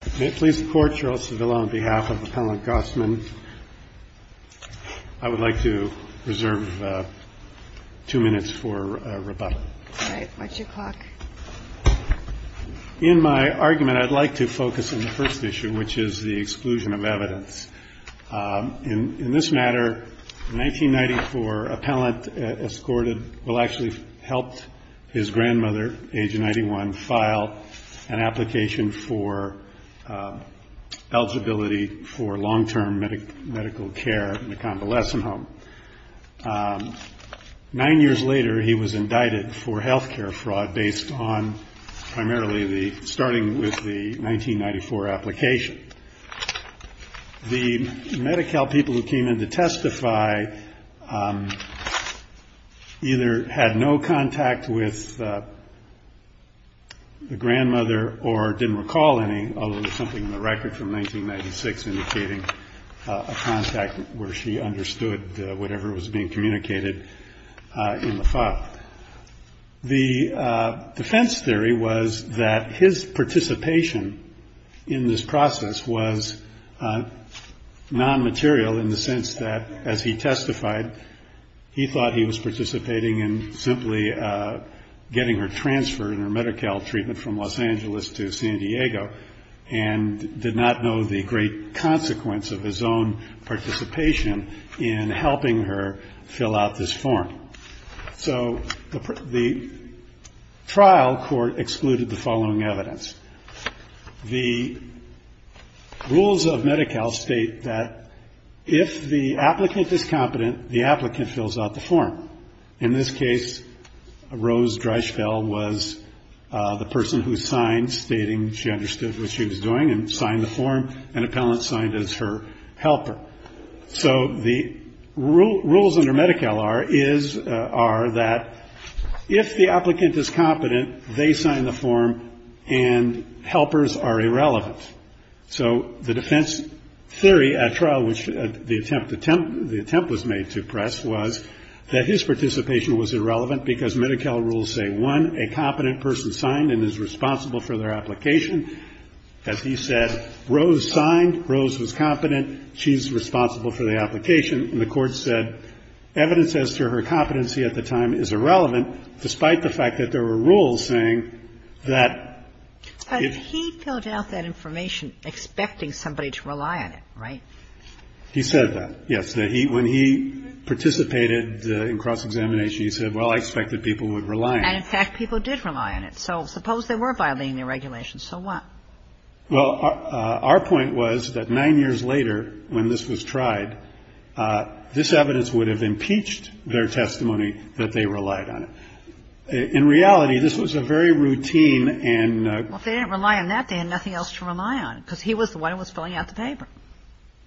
I would like to reserve two minutes for rebuttal. All right. What's your clock? In my argument, I'd like to focus on the first issue, which is the exclusion of evidence. In this matter, a 1994 appellant escorted, well, actually helped his grandmother, age 91, file an application for eligibility for long-term medical care in a convalescent home. Nine years later, he was indicted for health care fraud based on primarily the, starting with the 1994 application. The Medi-Cal people who came in to testify either had no contact with the grandmother or didn't recall any, although there's something in the record from 1996 indicating a contact where she understood whatever was being communicated in the file. The defense theory was that his participation in this process was non-material in the sense that, as he testified, he thought he was participating in simply getting her transferred in her Medi-Cal treatment from Los Angeles to San Diego and did not know the great consequence of his own participation in helping her fill out this form. So the trial court excluded the following evidence. The rules of Medi-Cal state that if the applicant is competent, the applicant fills out the form. In this case, Rose Dreischfeld was the person who signed, stating she understood what she was doing and signed the form. An appellant signed as her helper. So the rules under Medi-Cal are that if the applicant is competent, they sign the form and helpers are irrelevant. So the defense theory at trial, which the attempt was made to press, was that his participation was irrelevant because Medi-Cal rules say, one, a competent person signed and is responsible for their application. As he said, Rose signed, Rose was competent, she's responsible for the application. And the Court said evidence as to her competency at the time is irrelevant, despite the fact that there were rules saying that if he filled out that information, expecting somebody to rely on it, right? He said that, yes, that when he participated in cross-examination, he said, well, I expect that people would rely on it. And, in fact, people did rely on it. So suppose they were violating the regulations. So what? Well, our point was that nine years later, when this was tried, this evidence would have impeached their testimony that they relied on it. In reality, this was a very routine and ‑‑ Well, if they didn't rely on that, they had nothing else to rely on, because he was the one who was filling out the paper.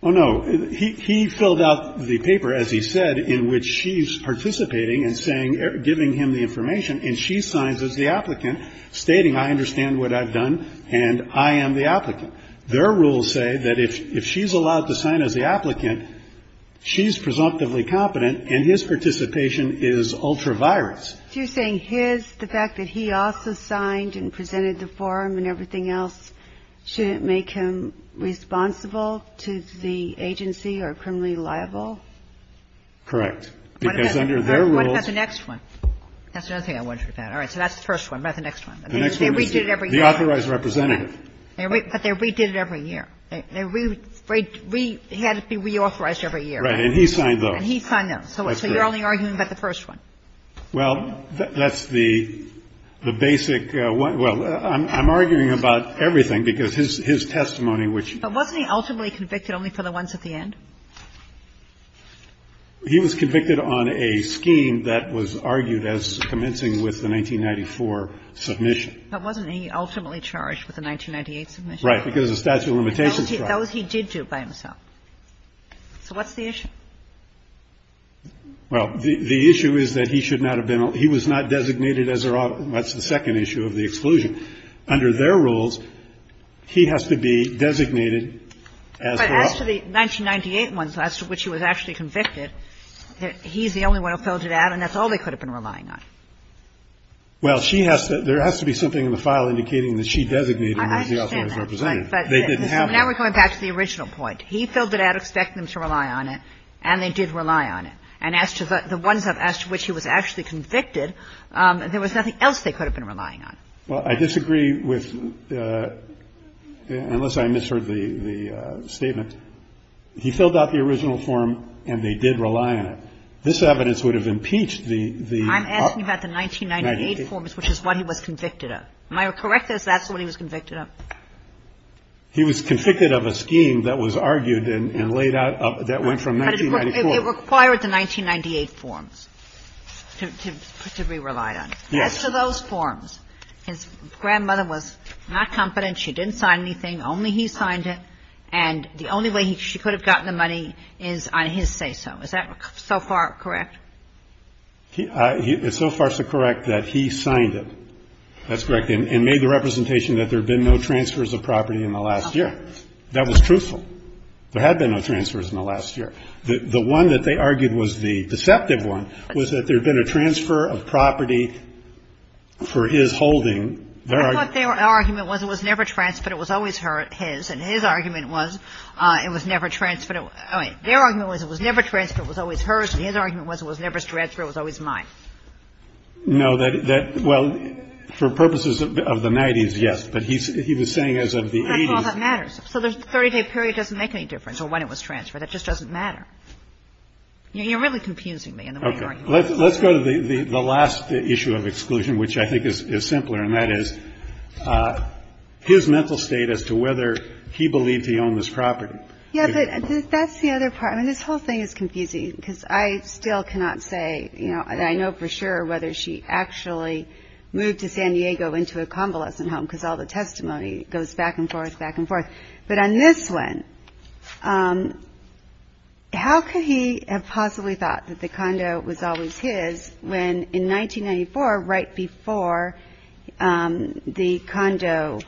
Oh, no. He filled out the paper, as he said, in which she's participating and saying ‑‑ giving him the information, and she signs as the applicant, stating, I understand what I've done, and I am the applicant. Their rules say that if she's allowed to sign as the applicant, she's presumptively competent, and his participation is ultraviolence. So you're saying his, the fact that he also signed and presented the form and everything else, shouldn't make him responsible to the agency or criminally liable? Correct. Because under their rules ‑‑ What about the next one? That's another thing I'm wondering about. All right. So that's the first one. What about the next one? The next one is the authorized representative. But they redid it every year. They had it be reauthorized every year. Right. And he signed those. And he signed those. So you're only arguing about the first one. Well, that's the basic ‑‑ well, I'm arguing about everything, because his testimony, which ‑‑ But wasn't he ultimately convicted only for the ones at the end? He was convicted on a scheme that was argued as commencing with the 1994 submission. But wasn't he ultimately charged with the 1998 submission? Right, because of statute of limitations. That was he did do by himself. So what's the issue? Well, the issue is that he should not have been ‑‑ he was not designated as a ‑‑ that's the second issue of the exclusion. Under their rules, he has to be designated as the ‑‑ But as to the 1998 ones, as to which he was actually convicted, he's the only one who filled it out, and that's all they could have been relying on. Well, she has to ‑‑ there has to be something in the file indicating that she designated him as the authorized representative. I understand that. But now we're going back to the original point. He filled it out expecting them to rely on it, and they did rely on it. And as to the ones as to which he was actually convicted, there was nothing else they could have been relying on. Well, I disagree with ‑‑ unless I misheard the statement. He filled out the original form, and they did rely on it. This evidence would have impeached the ‑‑ I'm asking about the 1998 forms, which is what he was convicted of. Am I correct that that's what he was convicted of? He was convicted of a scheme that was argued and laid out that went from 1994. But it required the 1998 forms to be relied on. Yes. As to those forms, his grandmother was not confident. She didn't sign anything. Only he signed it. And the only way she could have gotten the money is on his say‑so. Is that so far correct? It's so far so correct that he signed it. That's correct. The first argument of the State Tribunal, of course, is that he was never transferred and made the representation that there had been no transfers of property in the last year. That was truthful. There had been no transfers in the last year. The one that they argued was the deceptive one was that there'd been a transfer of property for his holding. I thought their argument was it was never transferred, it was always hers, and his argument was it was never transferred. It was always mine. No, that – well, for purposes of the 90s, yes, but he was saying as of the 80s. That's all that matters. So the 30-day period doesn't make any difference, or when it was transferred. It just doesn't matter. You're really confusing me in the way you're arguing. Okay. Let's go to the last issue of exclusion, which I think is simpler, and that is his mental state as to whether he believed he owned this property. Yeah, but that's the other part. I mean, this whole thing is confusing because I still cannot say, you know, and I know for sure whether she actually moved to San Diego into a convalescent home because all the testimony goes back and forth, back and forth. But on this one, how could he have possibly thought that the condo was always his when, in 1994, right before the condo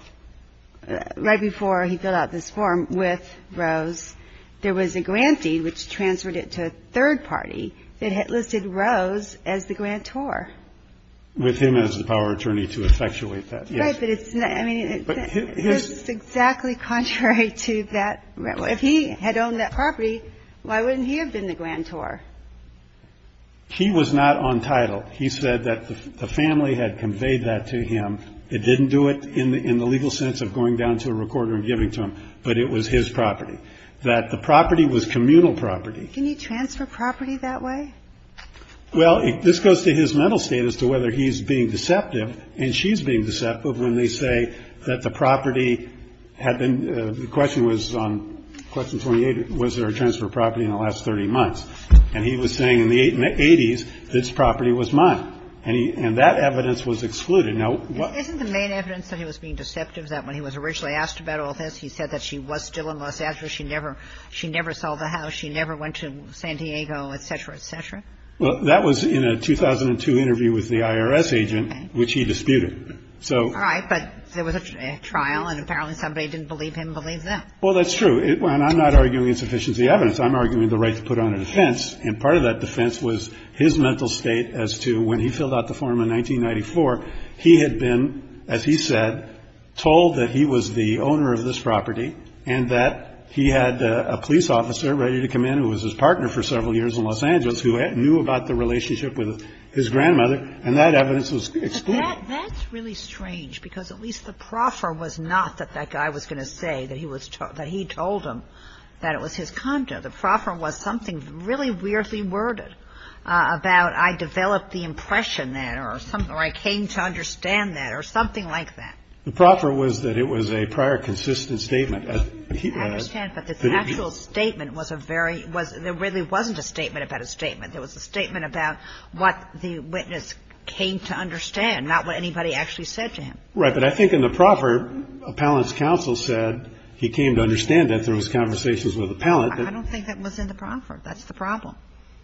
– right before he filled out this form with Rose, there was a grantee which transferred it to a third party that had listed Rose as the grantor? With him as the power attorney to effectuate that, yes. Right, but it's – I mean, it's exactly contrary to that. If he had owned that property, why wouldn't he have been the grantor? He was not on title. He said that the family had conveyed that to him. It didn't do it in the legal sense of going down to a recorder and giving it to him, but it was his property, that the property was communal property. Can you transfer property that way? Well, this goes to his mental state as to whether he's being deceptive and she's being deceptive when they say that the property had been – the question was on question 28, was there a transfer of property in the last 30 months. And he was saying in the 80s, this property was mine. And he – and that evidence was excluded. Now, what – Isn't the main evidence that he was being deceptive is that when he was originally asked about all this, he said that she was still in Los Angeles. She never – she never sold the house. She never went to San Diego, et cetera, et cetera. Well, that was in a 2002 interview with the IRS agent, which he disputed. So – Right. But there was a trial, and apparently somebody didn't believe him, believe them. Well, that's true. And I'm not arguing insufficiency evidence. I'm arguing the right to put on a defense, and part of that defense was his mental state as to when he filled out the form in 1994, he had been, as he said, told that he was the owner of this property and that he had a police officer ready to come in who was his partner for several years in Los Angeles who knew about the relationship with his grandmother, and that evidence was excluded. But that's really strange because at least the proffer was not that that guy was going to say that he was – that he told him that it was his condo. The proffer was something really weirdly worded about I developed the impression that or I came to understand that or something like that. The proffer was that it was a prior consistent statement. I understand, but the actual statement was a very – there really wasn't a statement about a statement. There was a statement about what the witness came to understand, not what anybody actually said to him. Right, but I think in the proffer, Appellant's counsel said he came to understand that there was conversations with Appellant. I don't think that was in the proffer. That's the problem.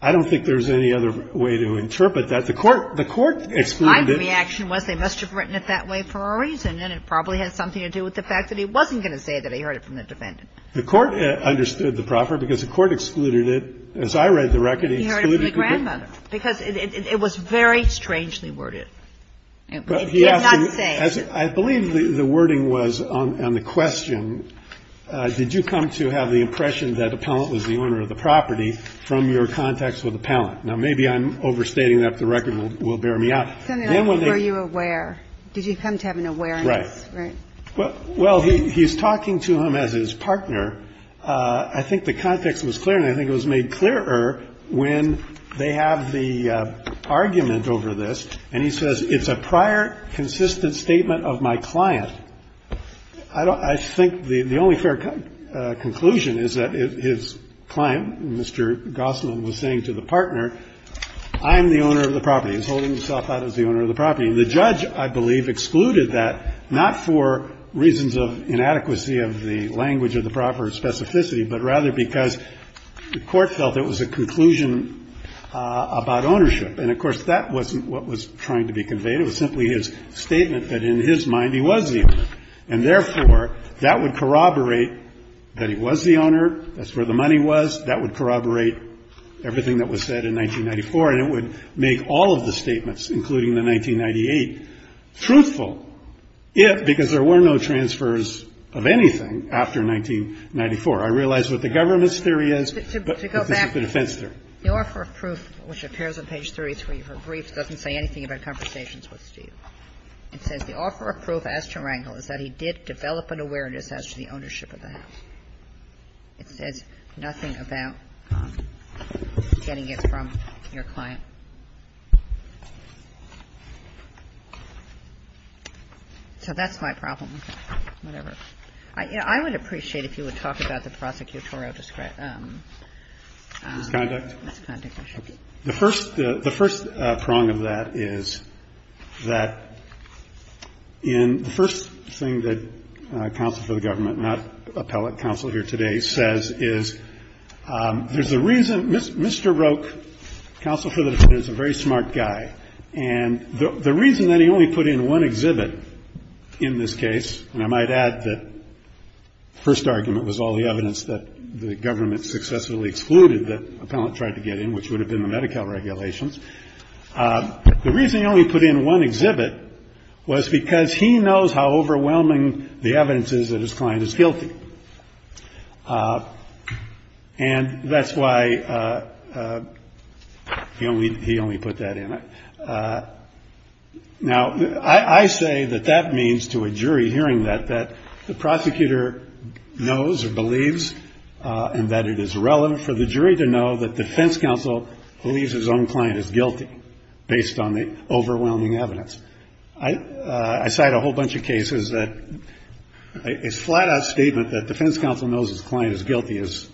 I don't think there was any other way to interpret that. The court excluded it. My reaction was they must have written it that way for a reason, and it probably had something to do with the fact that he wasn't going to say that he heard it from the defendant. The court understood the proffer because the court excluded it. As I read the record, he excluded it. He heard it from the grandmother because it was very strangely worded. He did not say it. I believe the wording was on the question, did you come to have the impression that Appellant was the owner of the property from your contacts with Appellant? Now, maybe I'm overstating that, but the record will bear me out. Senator, were you aware? Did you come to have an awareness? Right. Well, he's talking to him as his partner. I think the context was clear, and I think it was made clearer when they have the prior consistent statement of my client. I think the only fair conclusion is that his client, Mr. Gosselin, was saying to the partner, I'm the owner of the property. He's holding himself out as the owner of the property. The judge, I believe, excluded that, not for reasons of inadequacy of the language of the proffer or specificity, but rather because the court felt it was a conclusion about ownership. And, of course, that wasn't what was trying to be conveyed. It was simply his statement that in his mind he was the owner. And, therefore, that would corroborate that he was the owner, that's where the money was, that would corroborate everything that was said in 1994, and it would make all of the statements, including the 1998, truthful, if, because there were no transfers of anything after 1994. I realize what the government's theory is, but this is the defense theory. The offer of proof, which appears on page 33 of her brief, doesn't say anything about conversations with Steve. It says the offer of proof as to Wrangel is that he did develop an awareness as to the ownership of the house. It says nothing about getting it from your client. So that's my problem. Whatever. I would appreciate if you would talk about the prosecutorial discretion. The first prong of that is that in the first thing that counsel for the government, not appellate counsel here today, says is there's a reason Mr. Roque, counsel for the defense, is a very smart guy. And the reason that he only put in one exhibit in this case, and I might add that the first argument was all the evidence that the government successfully excluded that appellate tried to get in, which would have been the Medi-Cal regulations. The reason he only put in one exhibit was because he knows how overwhelming the evidence is that his client is guilty. And that's why he only put that in it. Now, I say that that means to a jury hearing that, that the prosecutor knows or believes and that it is relevant for the jury to know that defense counsel believes his own client is guilty, based on the overwhelming evidence. I cite a whole bunch of cases that a flat-out statement that defense counsel knows his client is guilty is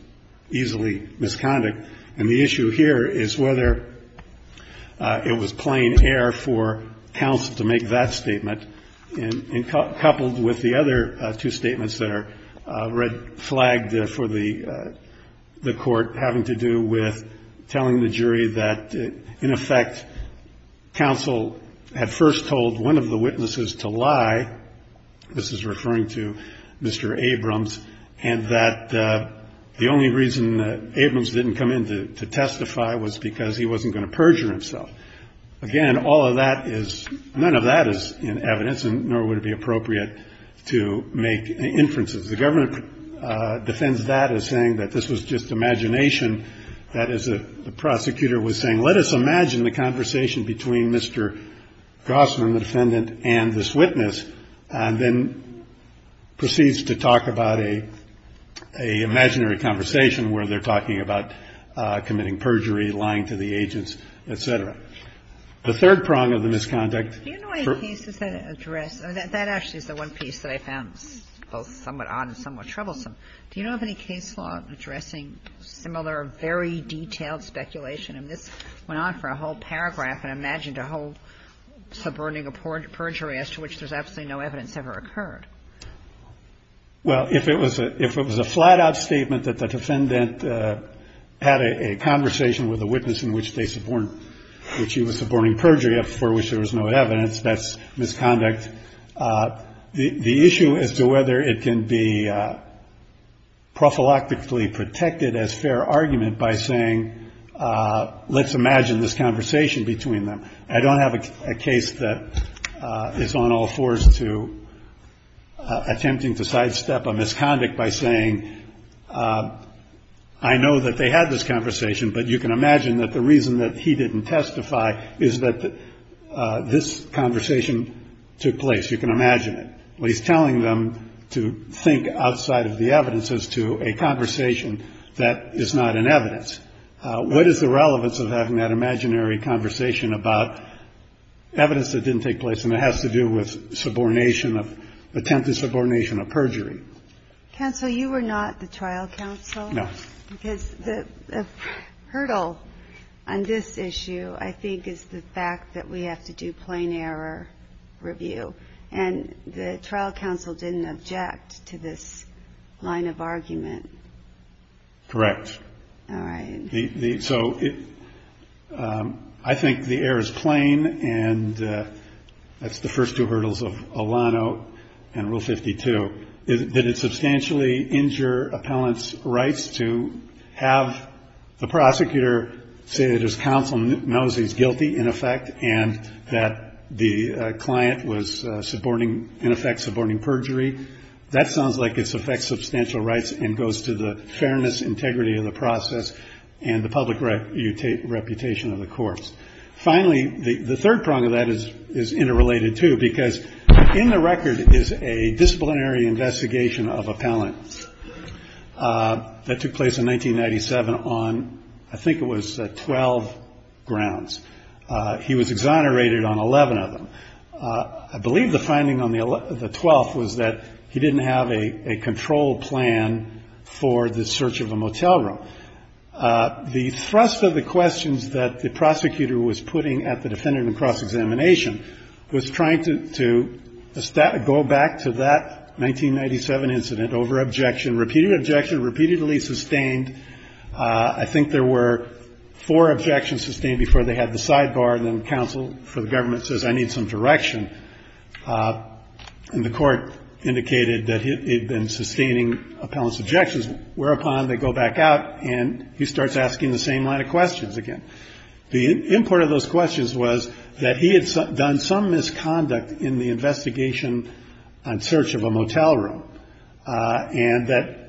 easily misconduct. And the issue here is whether it was plain air for counsel to make that statement, coupled with the other two statements that are red-flagged for the Court having to do with telling the jury that, in effect, counsel had first told one of the witnesses to lie, this is referring to Mr. Abrams, and that the only reason Abrams didn't come in to testify was because he wasn't going to perjure himself. Again, none of that is in evidence, and nor would it be appropriate to make inferences. The government defends that as saying that this was just imagination, that the prosecutor was saying, let us imagine the conversation between Mr. Gossman, the defendant, and this witness, and then proceeds to talk about a imaginary conversation where they're talking about committing perjury, lying to the agents, et cetera. The third prong of the misconduct for the case is that it addressed – that actually is the one piece that I found both somewhat odd and somewhat troublesome. Do you know of any case law addressing similar, very detailed speculation? I mean, this went on for a whole paragraph and imagined a whole subverting a perjury as to which there's absolutely no evidence ever occurred. Well, if it was a flat-out statement that the defendant had a conversation with a witness in which they support – which he was supporting perjury for, for which there was no evidence, that's misconduct. The issue as to whether it can be prophylactically protected as fair argument by saying, let's imagine this conversation between them. I don't have a case that is on all fours to attempting to sidestep a misconduct by saying, I know that they had this conversation, but you can imagine that the reason that he didn't testify is that this conversation took place. You can imagine it. Well, he's telling them to think outside of the evidence as to a conversation that is not in evidence. What is the relevance of having that imaginary conversation about evidence that didn't take place, and it has to do with subordination of – attempted subordination of perjury? Counsel, you were not the trial counsel. No. Because the hurdle on this issue, I think, is the fact that we have to do plain error review. And the trial counsel didn't object to this line of argument. Correct. All right. So I think the error is plain, and that's the first two hurdles of Olano and Rule 52. Did it substantially injure appellant's rights to have the prosecutor say that his counsel knows he's guilty, in effect, and that the client was in effect suborning perjury? That sounds like it affects substantial rights and goes to the fairness, integrity of the process, and the public reputation of the courts. Finally, the third prong of that is interrelated, too, because in the record is a disciplinary investigation of appellants that took place in 1997 on, I think it was, 12 grounds. He was exonerated on 11 of them. I believe the finding on the 12th was that he didn't have a control plan for the search of a motel room. The thrust of the questions that the prosecutor was putting at the defendant in the cross-examination was trying to go back to that 1997 incident over objection, repeated objection, repeatedly sustained. I think there were four objections sustained before they had the sidebar, and then the counsel for the government says, I need some direction, and the court indicated that he had been sustaining appellant's objections, whereupon they go back out and he starts asking the same line of questions again. The import of those questions was that he had done some misconduct in the investigation on search of a motel room, and that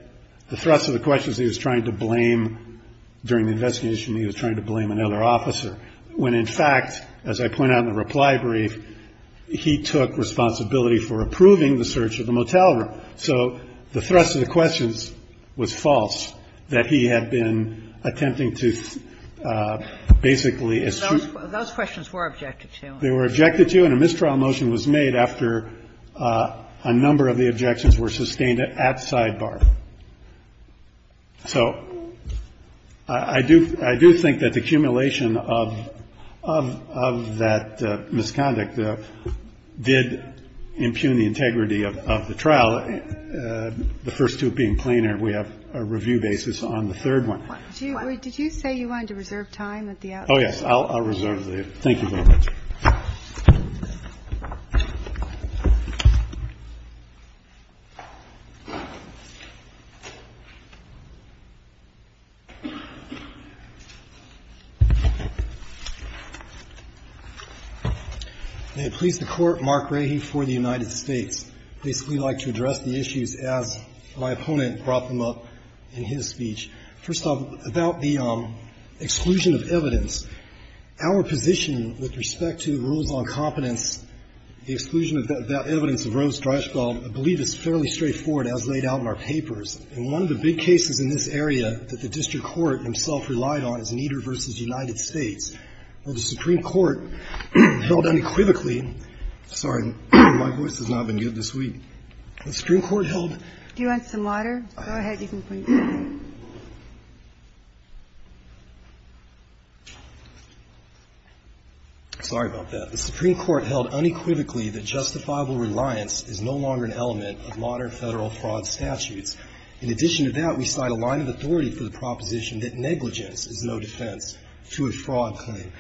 the thrust of the questions he was trying to blame during the investigation, he was trying to blame another officer, when, in fact, as I point out in the reply brief, he took responsibility for approving the search of the motel room. So the thrust of the questions was false, that he had been attempting to basically extrude. Kagan. Those questions were objected to. They were objected to, and a mistrial motion was made after a number of the objections were sustained at sidebar. So I do think that the accumulation of that misconduct did impugn the integrity of the trial, the first two being plainer. We have a review basis on the third one. Kagan. Did you say you wanted to reserve time at the outside? Oh, yes. I'll reserve the time. Thank you very much. May it please the Court, Mark Rahe for the United States. I'd basically like to address the issues as my opponent brought them up in his speech. First off, about the exclusion of evidence, our position with respect to rules on competence, the exclusion of that evidence of Rose Dreischwald, I believe is fairly straightforward as laid out in our papers. And one of the big cases in this area that the district court himself relied on is Nieder v. United States, where the Supreme Court held unequivocally. Sorry, my voice has not been good this week. The Supreme Court held. Do you want some water? Go ahead. Sorry about that. The Supreme Court held unequivocally that justifiable reliance is no longer an element of modern Federal fraud statutes. In addition to that, we cite a line of authority for the proposition that negligence is no defense to a fraud claim.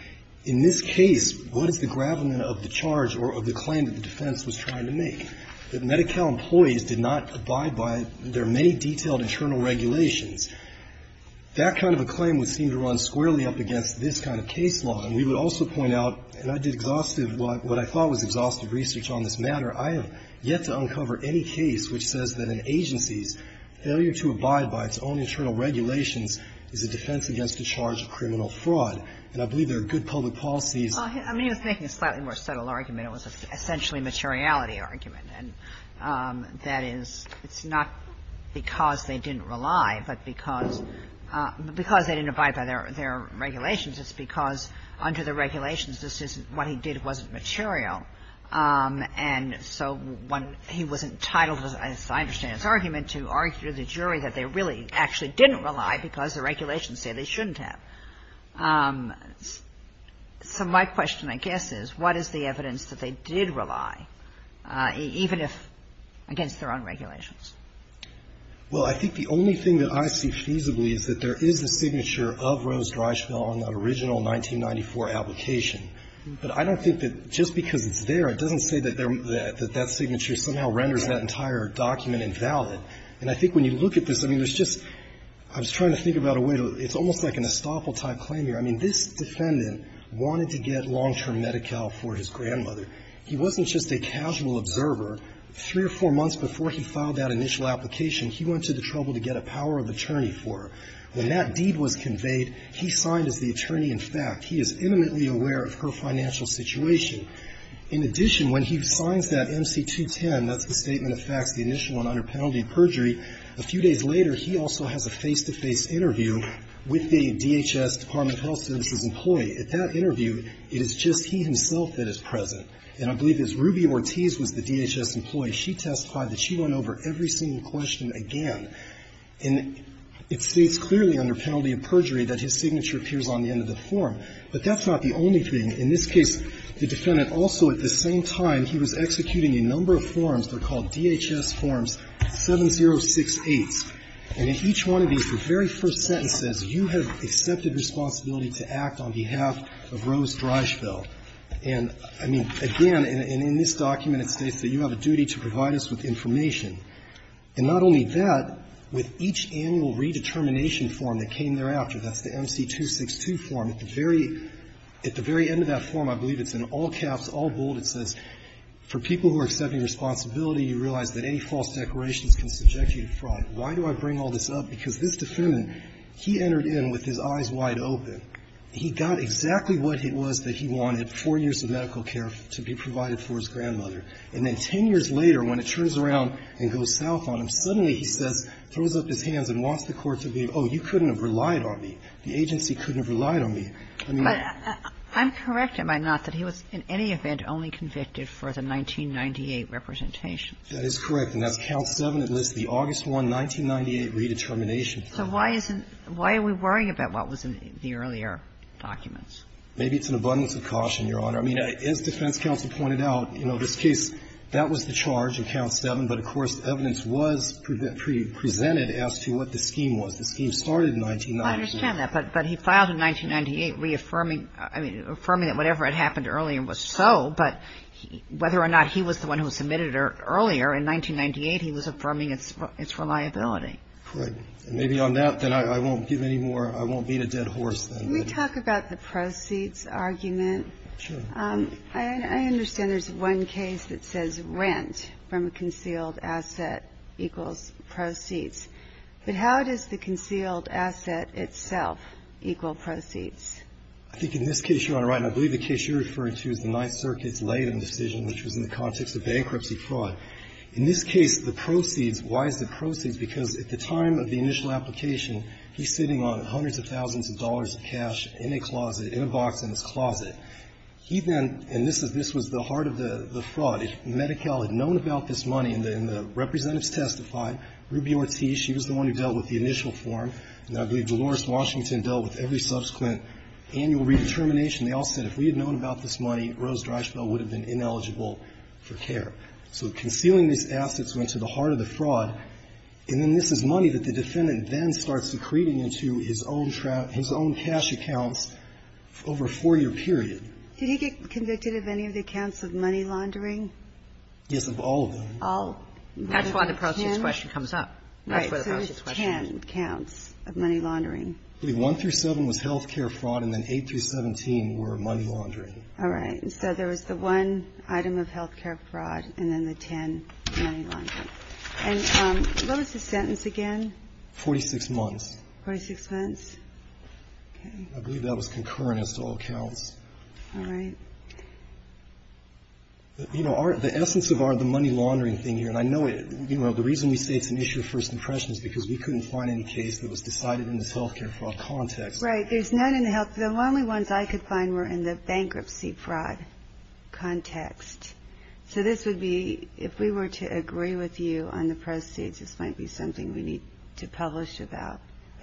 In this case, what is the gravamen of the charge or of the claim that the defense was trying to make? That Medi-Cal employees did not abide by their many detailed internal regulations. That kind of a claim would seem to run squarely up against this kind of case law. And we would also point out, and I did exhaustive, what I thought was exhaustive research on this matter, I have yet to uncover any case which says that an agency's failure to abide by its own internal regulations is a defense against the charge of criminal fraud. And I believe there are good public policies. Well, I mean, he was making a slightly more subtle argument. It was essentially a materiality argument. And that is, it's not because they didn't rely, but because they didn't abide by their regulations. It's because under the regulations, this isn't what he did wasn't material. And so when he was entitled, as I understand his argument, to argue to the jury that they really actually didn't rely because the regulations say they shouldn't have. So my question, I guess, is what is the evidence that they did rely, even if against their own regulations? Well, I think the only thing that I see feasibly is that there is a signature of Rose Dryschville on that original 1994 application. But I don't think that just because it's there, it doesn't say that that signature somehow renders that entire document invalid. And I think when you look at this, I mean, there's just – I was trying to think about a way to – it's almost like an estoppel-type claim here. I mean, this defendant wanted to get long-term Medi-Cal for his grandmother. He wasn't just a casual observer. Three or four months before he filed that initial application, he went to the trouble to get a power of attorney for her. When that deed was conveyed, he signed as the attorney-in-fact. He is eminently aware of her financial situation. In addition, when he signs that MC-210, that's the statement of facts, the initial one under penalty of perjury, a few days later, he also has a face-to-face interview with the DHS Department of Health Services employee. At that interview, it is just he himself that is present. And I believe it's Ruby Ortiz was the DHS employee. She testified that she went over every single question again. And it states clearly under penalty of perjury that his signature appears on the end of the form. But that's not the only thing. In this case, the defendant also at the same time, he was executing a number of forms. They're called DHS Forms 7068. And in each one of these, the very first sentence says, You have accepted responsibility to act on behalf of Rose Dreischfeld. And, I mean, again, and in this document, it states that you have a duty to provide us with information. And not only that, with each annual redetermination form that came thereafter, that's the MC-262 form, at the very end of that form, I believe it's in all caps, all bold, it says, For people who are accepting responsibility, you realize that any false declarations can subject you to fraud. Why do I bring all this up? Because this defendant, he entered in with his eyes wide open. He got exactly what it was that he wanted, four years of medical care to be provided for his grandmother. And then 10 years later, when it turns around and goes south on him, suddenly he says, throws up his hands and wants the Court to believe, oh, you couldn't have relied on me. The agency couldn't have relied on me. I mean the law. Kagan. I'm correct, am I not, that he was in any event only convicted for the 1998 representation? That is correct. And that's Count 7, it lists the August 1, 1998, redetermination. So why isn't why are we worrying about what was in the earlier documents? Maybe it's an abundance of caution, Your Honor. I mean, as defense counsel pointed out, you know, this case, that was the charge in Count 7, but of course, evidence was presented as to what the scheme was. The scheme started in 1998. I understand that, but he filed in 1998 reaffirming, I mean, affirming that whatever had happened earlier was so, but whether or not he was the one who submitted it earlier, in 1998, he was affirming its reliability. Right. And maybe on that, then I won't give any more, I won't beat a dead horse, then. Can we talk about the proceeds argument? Sure. I understand there's one case that says rent from a concealed asset equals proceeds. But how does the concealed asset itself equal proceeds? I think in this case, Your Honor, I believe the case you're referring to is the Ninth In this case, the proceeds, why is it proceeds? Because at the time of the initial application, he's sitting on hundreds of thousands of dollars of cash in a closet, in a box in his closet. He then, and this was the heart of the fraud, if Medi-Cal had known about this money and the representatives testified, Ruby Ortiz, she was the one who dealt with the initial form, and I believe Dolores Washington dealt with every subsequent annual redetermination, they all said if we had known about this money, Rose Dreisfeld would have been ineligible for care. So concealing these assets went to the heart of the fraud, and then this is money that the defendant then starts secreting into his own cash accounts over a four-year period. Did he get convicted of any of the accounts of money laundering? Yes, of all of them. That's why the proceeds question comes up. Right, so there's 10 accounts of money laundering. I believe 1 through 7 was health care fraud, and then 8 through 17 were money laundering. All right, so there was the 1 item of health care fraud, and then the 10 money laundering. And what was the sentence again? 46 months. 46 months. I believe that was concurrent as to all accounts. All right. You know, the essence of the money laundering thing here, and I know the reason we say it's an issue of first impression is because we couldn't find any case that was decided in this health care fraud context. Right, there's none in the health, the only ones I could find were in the bankruptcy fraud context. So this would be, if we were to agree with you on the proceeds, this might be something we need to publish about.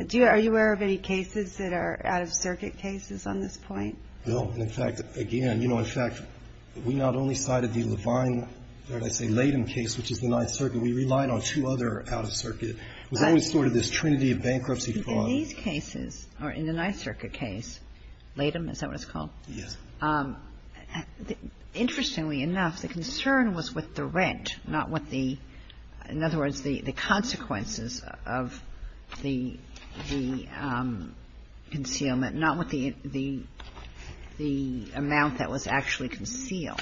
Do you, are you aware of any cases that are out-of-circuit cases on this point? No, in fact, again, you know, in fact, we not only cited the Levine, or did I say Latham case, which is the Ninth Circuit. We relied on two other out-of-circuit. It was always sort of this trinity of bankruptcy fraud. These cases, or in the Ninth Circuit case, Latham, is that what it's called? Yes. Interestingly enough, the concern was with the rent, not with the, in other words, the consequences of the concealment, not with the amount that was actually concealed.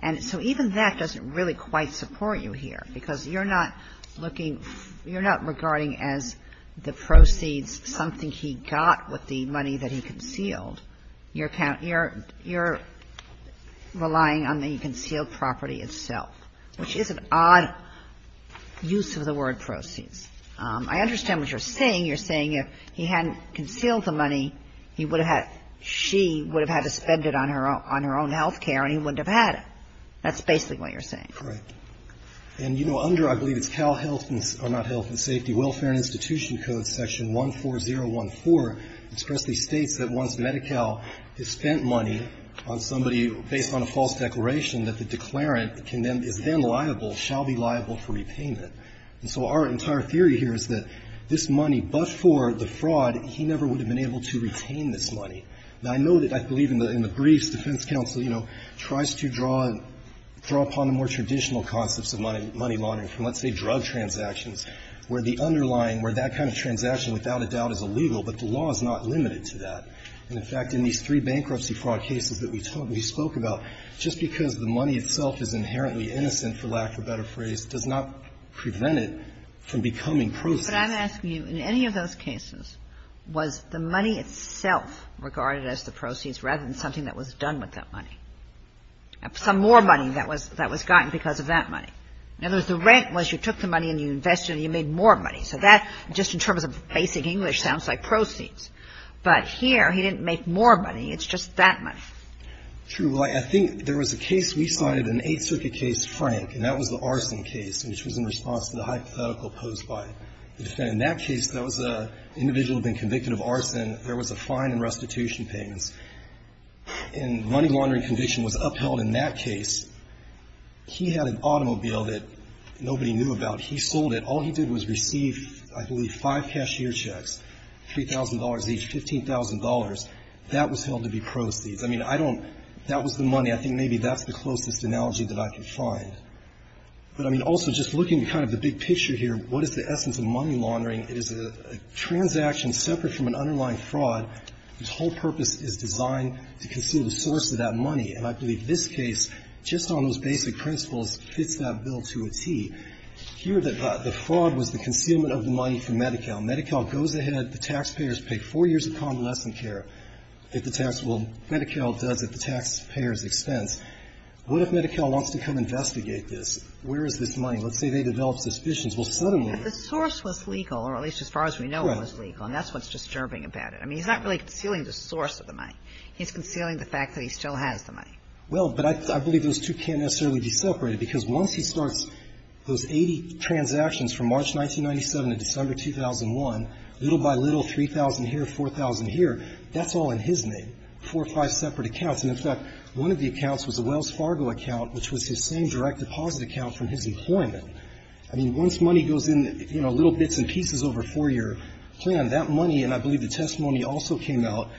And so even that doesn't really quite support you here, because you're not looking you're not regarding as the proceeds something he got with the money that he concealed your account. You're relying on the concealed property itself, which is an odd use of the word proceeds. I understand what you're saying. You're saying if he hadn't concealed the money, he would have had, she would have had to spend it on her own health care, and he wouldn't have had it. That's basically what you're saying. Correct. And, you know, under, I believe it's Cal Health, or not Health and Safety, Welfare and Institution Code, Section 14014, expressly states that once Medi-Cal has spent money on somebody based on a false declaration, that the declarant is then liable, shall be liable for repayment. And so our entire theory here is that this money, but for the fraud, he never would have been able to retain this money. Now, I know that, I believe in the briefs, defense counsel, you know, tries to draw upon the more traditional concepts of money laundering from, let's say, drug transactions, where the underlying, where that kind of transaction, without a doubt, is illegal, but the law is not limited to that. And, in fact, in these three bankruptcy fraud cases that we spoke about, just because the money itself is inherently innocent, for lack of a better phrase, does not prevent it from becoming proceeds. But I'm asking you, in any of those cases, was the money itself regarded as the proceeds rather than something that was done with that money? Some more money that was gotten because of that money. In other words, the rent was you took the money and you invested it and you made more money. So that, just in terms of basic English, sounds like proceeds. But here, he didn't make more money. It's just that money. True. I think there was a case we cited, an Eighth Circuit case, Frank, and that was the arson case, which was in response to the hypothetical posed by the defendant. In that case, that was an individual who had been convicted of arson. There was a fine and restitution payments. And money laundering conviction was upheld in that case. He had an automobile that nobody knew about. He sold it. All he did was receive, I believe, five cashier checks, $3,000 each, $15,000. That was held to be proceeds. I mean, I don't – that was the money. I think maybe that's the closest analogy that I could find. But, I mean, also, just looking at kind of the big picture here, what is the essence of money laundering? It is a transaction separate from an underlying fraud whose whole purpose is designed to conceal the source of that money. And I believe this case, just on those basic principles, fits that bill to a tee. Here, the fraud was the concealment of the money from Medi-Cal. Medi-Cal goes ahead, the taxpayers pay four years of convalescent care at the tax – well, Medi-Cal does at the taxpayer's expense. What if Medi-Cal wants to come investigate this? Where is this money? Let's say they develop suspicions. Well, suddenly the source was legal, or at least as far as we know it was legal. And that's what's disturbing about it. I mean, he's not really concealing the source of the money. He's concealing the fact that he still has the money. Well, but I believe those two can't necessarily be separated, because once he starts those 80 transactions from March 1997 to December 2001, little by little, 3,000 here, 4,000 here, that's all in his name, four or five separate accounts. And, in fact, one of the accounts was a Wells Fargo account, which was his same direct deposit account from his employment. I mean, once money goes in, you know, little bits and pieces over a four-year plan, that money, and I believe the testimony also came out,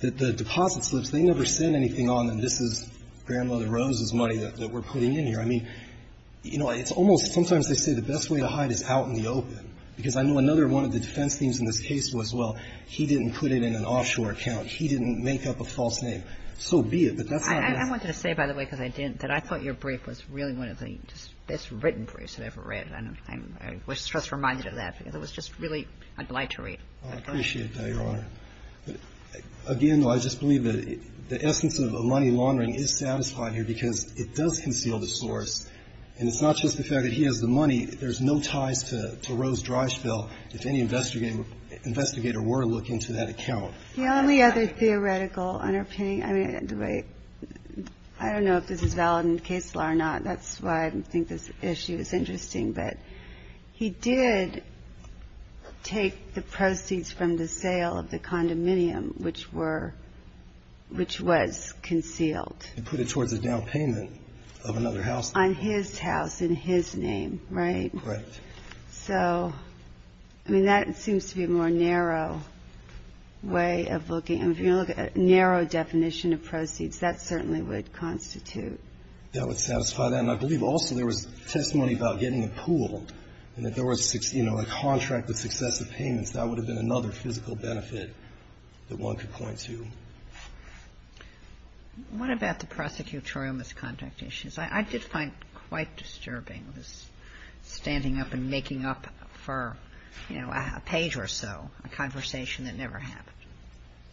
that the deposit slips, they never said anything on them. This is Grandmother Rose's money that we're putting in here. I mean, you know, it's almost sometimes they say the best way to hide is out in the open, because I know another one of the defense themes in this case was, well, he didn't put it in an offshore account. He didn't make up a false name. So be it, but that's not enough. I wanted to say, by the way, because I didn't, that I thought your brief was really one of the best written briefs I've ever read. And I was just reminded of that, because it was just really obliterate. I appreciate that, Your Honor. Again, though, I just believe that the essence of a money laundering is satisfied here, because it does conceal the source, and it's not just the fact that he has the money. There's no ties to Rose Dryschville, if any investigator were looking to that account. The only other theoretical underpinning, I mean, I don't know if this is valid and caseful or not. That's why I think this issue is interesting. But he did take the proceeds from the sale of the condominium, which were, which was concealed. He put it towards a down payment of another house. On his house, in his name, right? Right. So, I mean, that seems to be a more narrow way of looking. And if you're going to look at a narrow definition of proceeds, that certainly would constitute. That would satisfy that. And I believe also there was testimony about getting a pool, and that there was, you know, a contract with successive payments. That would have been another physical benefit that one could point to. What about the prosecutorial misconduct issues? I did find quite disturbing, this standing up and making up for, you know, a page or so, a conversation that never happened.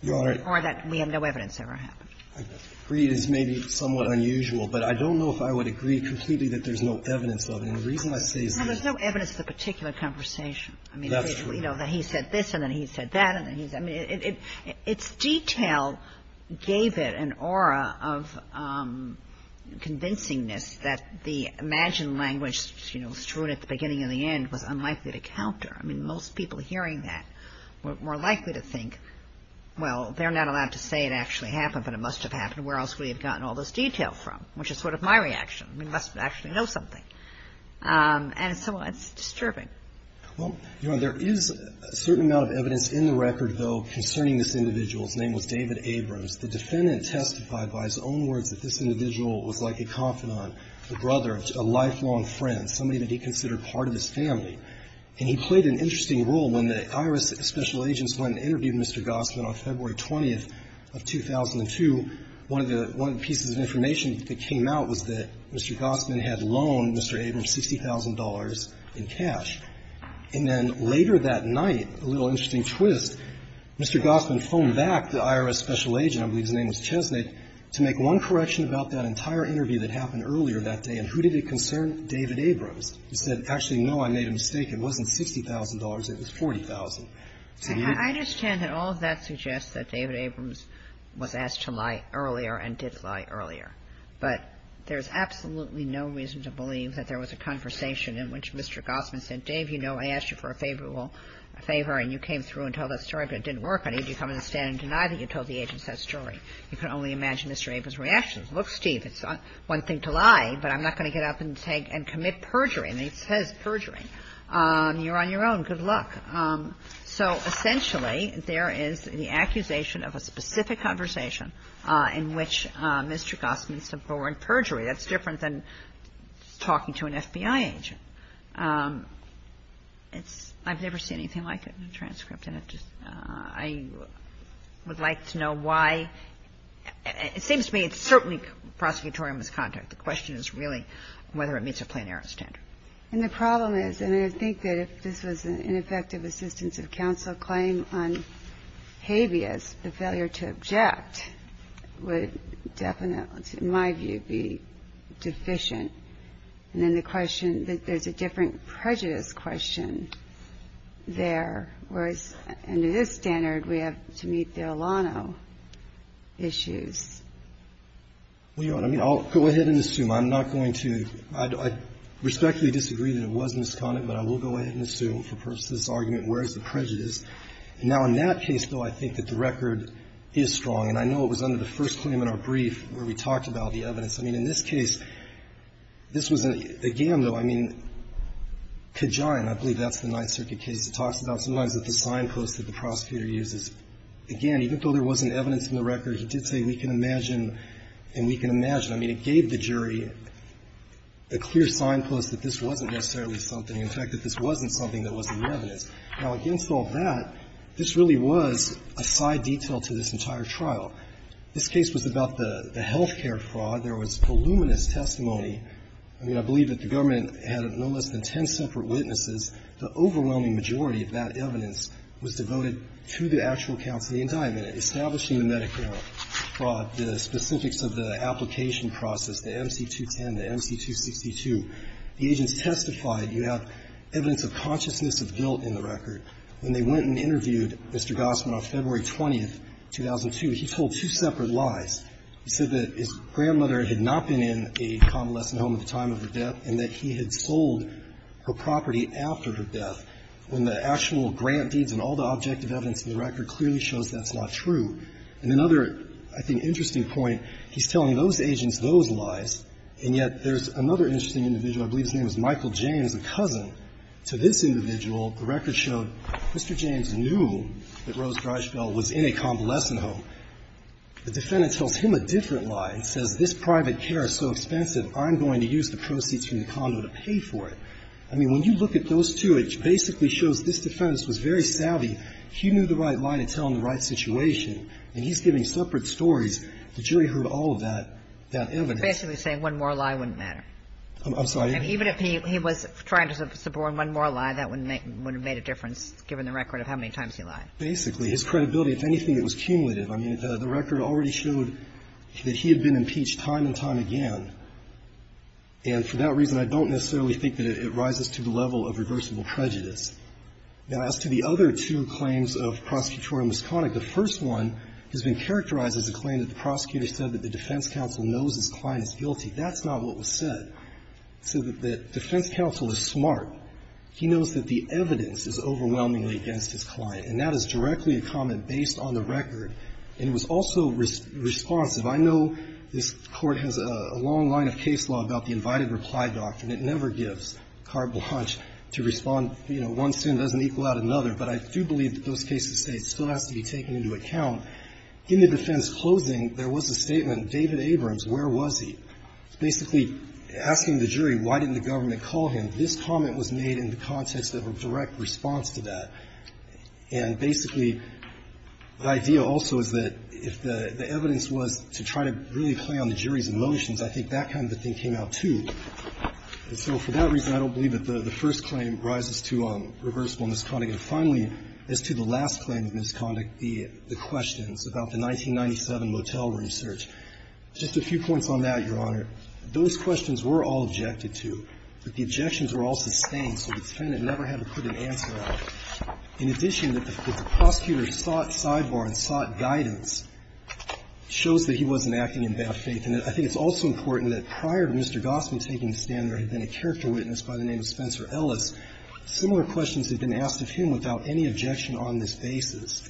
Your Honor. Or that we have no evidence ever happened. I agree it is maybe somewhat unusual, but I don't know if I would agree completely that there's no evidence of it. And the reason I say is that. No, there's no evidence of the particular conversation. That's true. I mean, you know, that he said this, and then he said that, and then he said. I mean, its detail gave it an aura of convincingness that the imagined language, you know, strewn at the beginning and the end, was unlikely to counter. I mean, most people hearing that were more likely to think, well, they're not allowed to say it actually happened, but it must have happened. Where else would we have gotten all this detail from? Which is sort of my reaction. We must actually know something. And so it's disturbing. Well, Your Honor, there is a certain amount of evidence in the record, though, concerning this individual. His name was David Abrams. The defendant testified by his own words that this individual was like a confidant, a brother, a lifelong friend, somebody that he considered part of his family. And he played an interesting role when the IRS special agents went to interview Mr. Gossman on February 20th of 2002. One of the pieces of information that came out was that Mr. Gossman had loaned Mr. Abrams $60,000 in cash. And then later that night, a little interesting twist, Mr. Gossman phoned back the IRS special agent, I believe his name was Chesnate, to make one correction about that entire interview that happened earlier that day, and who did it concern? David Abrams. He said, actually, no, I made a mistake, it wasn't $60,000, it was $40,000. I understand that all of that suggests that David Abrams was asked to lie earlier and did lie earlier. But there's absolutely no reason to believe that there was a conversation in which Mr. Gossman said, Dave, you know, I asked you for a favorable favor, and you came through and told that story, but it didn't work, I need you to come in and stand and deny that you told the agent that story. You can only imagine Mr. Abrams' reaction. Look, Steve, it's one thing to lie, but I'm not going to get up and take and commit perjury, and it says perjury. You're on your own. Good luck. So essentially, there is the accusation of a specific conversation in which Mr. Gossman suborned perjury. That's different than talking to an FBI agent. It's – I've never seen anything like it in a transcript, and it just – I would like to know why – it seems to me it's certainly prosecutorial misconduct. The question is really whether it meets a plenary standard. And the problem is, and I think that if this was an ineffective assistance of counsel claim on habeas, the failure to object would definitely, in my view, be deficient. And then the question that there's a different prejudice question there, whereas under this standard, we have to meet the Olano issues. Well, you know what I mean. I'll go ahead and assume. I'm not going to – I respectfully disagree that it was misconduct, but I will go ahead and assume for purposes of this argument, whereas the prejudice – now, in that case, though, I think that the record is strong, and I know it was under the first claim in our brief where we talked about the evidence. I mean, in this case, this was a – again, though, I mean, Kajan, I believe that's the Ninth Circuit case that talks about sometimes that the signpost that the prosecutor uses, again, even though there wasn't evidence in the record, he did say we can imagine and we can imagine. I mean, it gave the jury a clear signpost that this wasn't necessarily something. In fact, that this wasn't something that wasn't evidence. Now, against all that, this really was a side detail to this entire trial. This case was about the healthcare fraud. There was voluminous testimony. I mean, I believe that the government had no less than ten separate witnesses. The overwhelming majority of that evidence was devoted to the actual counsel indictment. Establishing the medical fraud, the specifics of the application process, the MC-210, the MC-262, the agents testified you have evidence of consciousness of guilt in the record. When they went and interviewed Mr. Gossman on February 20th, 2002, he told two separate lies. He said that his grandmother had not been in a convalescent home at the time of her death, and that he had sold her property after her death, when the actual grant deeds and all the objective evidence in the record clearly shows that's not true. And another, I think, interesting point, he's telling those agents those lies, and yet there's another interesting individual, I believe his name is Michael James, a cousin, to this individual. The record showed Mr. James knew that Rose Greisfeld was in a convalescent home. The defendant tells him a different lie and says this private care is so expensive, I'm going to use the proceeds from the condo to pay for it. I mean, when you look at those two, it basically shows this defense was very savvy. He knew the right lie to tell in the right situation, and he's giving separate stories. The jury heard all of that, that evidence. But basically saying one more lie wouldn't matter. I'm sorry. Even if he was trying to suborn one more lie, that wouldn't make the difference given the record of how many times he lied. Basically. His credibility, if anything, it was cumulative. I mean, the record already showed that he had been impeached time and time again. And for that reason, I don't necessarily think that it rises to the level of reversible prejudice. Now, as to the other two claims of Prosecutor Misconnick, the first one has been characterized as a claim that the prosecutor said that the defense counsel knows his client is guilty. That's not what was said. It said that the defense counsel is smart. He knows that the evidence is overwhelmingly against his client. And that is directly a comment based on the record, and it was also responsive. I know this Court has a long line of case law about the invited reply doctrine. It never gives carte blanche to respond, you know, one sin doesn't equal out another. But I do believe that those cases still have to be taken into account. In the defense closing, there was a statement, David Abrams, where was he? Basically asking the jury, why didn't the government call him? This comment was made in the context of a direct response to that. And basically, the idea also is that if the evidence was to try to really play on the jury's emotions, I think that kind of a thing came out, too. And so for that reason, I don't believe that the first claim rises to reversible misconduct. And finally, as to the last claim of misconduct, the questions about the 1997 motel room search, just a few points on that, Your Honor. Those questions were all objected to, but the objections were all sustained, so the defendant never had to put an answer out. In addition, that the prosecutor sought sidebar and sought guidance shows that he wasn't acting in bad faith. And I think it's also important that prior to Mr. Gossman taking the stand, there had been a character witness by the name of Spencer Ellis. Similar questions had been asked of him without any objection on this basis.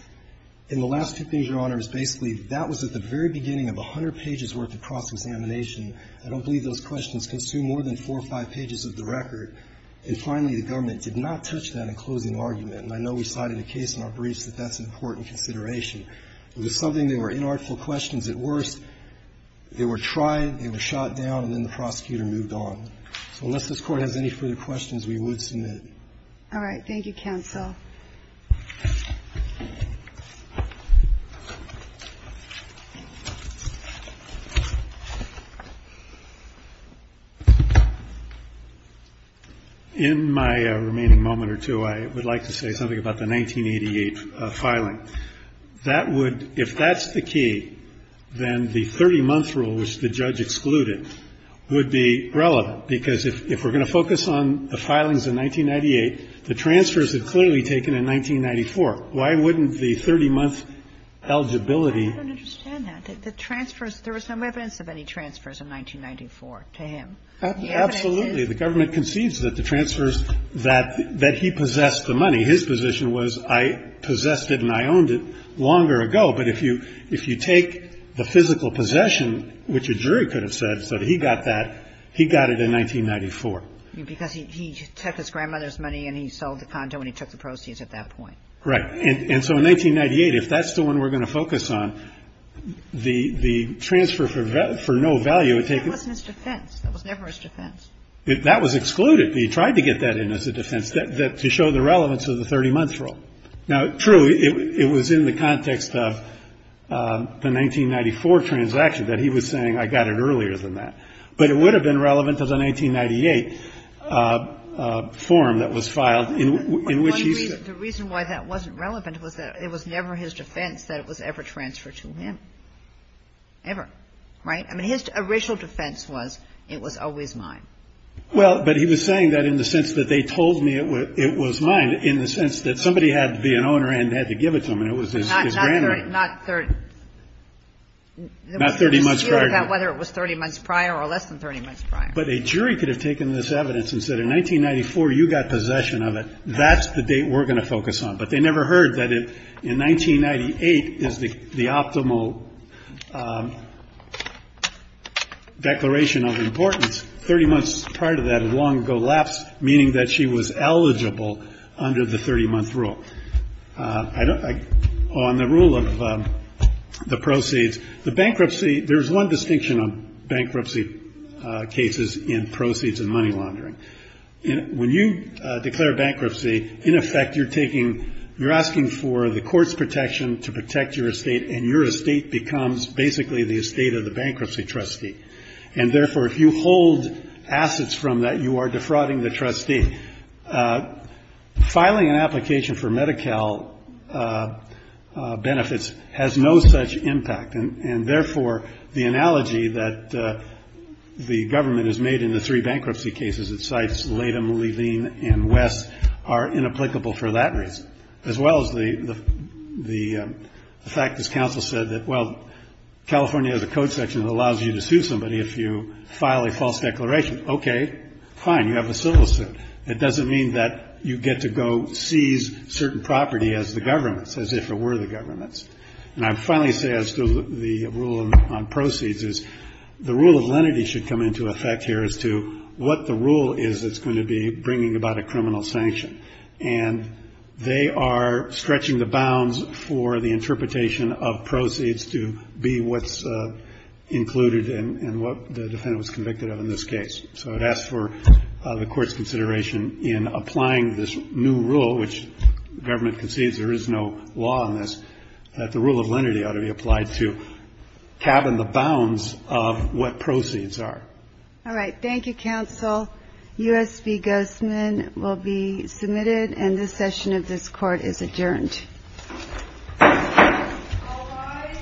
And the last two things, Your Honor, is basically that was at the very beginning of 100 pages' worth of cross-examination. I don't believe those questions consumed more than four or five pages of the record. And finally, the government did not touch that in closing argument. And I know we cited a case in our briefs that that's an important consideration. It was something that were inartful questions at worst. They were tried, they were shot down, and then the prosecutor moved on. So unless this Court has any further questions, we would submit. All right. Thank you, counsel. In my remaining moment or two, I would like to say something about the 1988 filing. That would – if that's the key, then the 30-month rule, which the judge excluded, would be relevant, because if we're going to focus on the filings of 1998, the transfers had clearly taken in 1994. Why wouldn't the 30-month eligibility – I don't understand that. The transfers – there was no evidence of any transfers in 1994 to him. Absolutely. The government concedes that the transfers – that he possessed the money. His position was, I possessed it and I owned it longer ago. But if you take the physical possession, which a jury could have said that he got that, he got it in 1994. Because he took his grandmother's money and he sold the condo and he took the proceeds at that point. Right. And so in 1998, if that's the one we're going to focus on, the transfer for no value would take – That wasn't his defense. That was never his defense. That was excluded. He tried to get that in as a defense, to show the relevance of the 30-month rule. Now, true, it was in the context of the 1994 transaction that he was saying, I got it earlier than that. But it would have been relevant to the 1998 form that was filed in which he said – The reason why that wasn't relevant was that it was never his defense that it was ever transferred to him. Ever. Right? I mean, his original defense was, it was always mine. Well, but he was saying that in the sense that they told me it was mine, in the sense that somebody had to be an owner and had to give it to him, and it was his grandmother. Not 30 – Not 30 months prior to that. Whether it was 30 months prior or less than 30 months prior. But a jury could have taken this evidence and said, in 1994, you got possession of it. That's the date we're going to focus on. But they never heard that in 1998 is the optimal declaration of importance. Thirty months prior to that had long ago lapsed, meaning that she was eligible under the 30-month rule. I don't – on the rule of the proceeds, the bankruptcy – there's one distinction on bankruptcy cases in proceeds and money laundering. When you declare bankruptcy, in effect, you're taking – you're asking for the court's protection to protect your estate, and your estate becomes basically the estate of the bankruptcy trustee. And therefore, if you hold assets from that, you are defrauding the trustee. Filing an application for Medi-Cal benefits has no such impact, and therefore, the analogy that the government has made in the three bankruptcy cases it cites, Latham, Levine, and West, are inapplicable for that reason. As well as the fact, as counsel said, that, well, California has a code section that allows you to sue somebody if you file a false declaration. Okay, fine. You have a civil suit. It doesn't mean that you get to go seize certain property as the government's, as if it were the government's. And I'd finally say, as to the rule on proceeds, is the rule of lenity should come into effect here as to what the rule is that's going to be bringing about a criminal sanction. And they are stretching the bounds for the interpretation of proceeds to be what's included in what the defendant was convicted of in this case. So I'd ask for the Court's consideration in applying this new rule, which the government concedes there is no law on this, that the rule of lenity ought to be applied to cabin the bounds of what proceeds are. All right. Thank you, counsel. U.S. v. Guzman will be submitted. And this session of this Court is adjourned. All rise for the session to adjourn.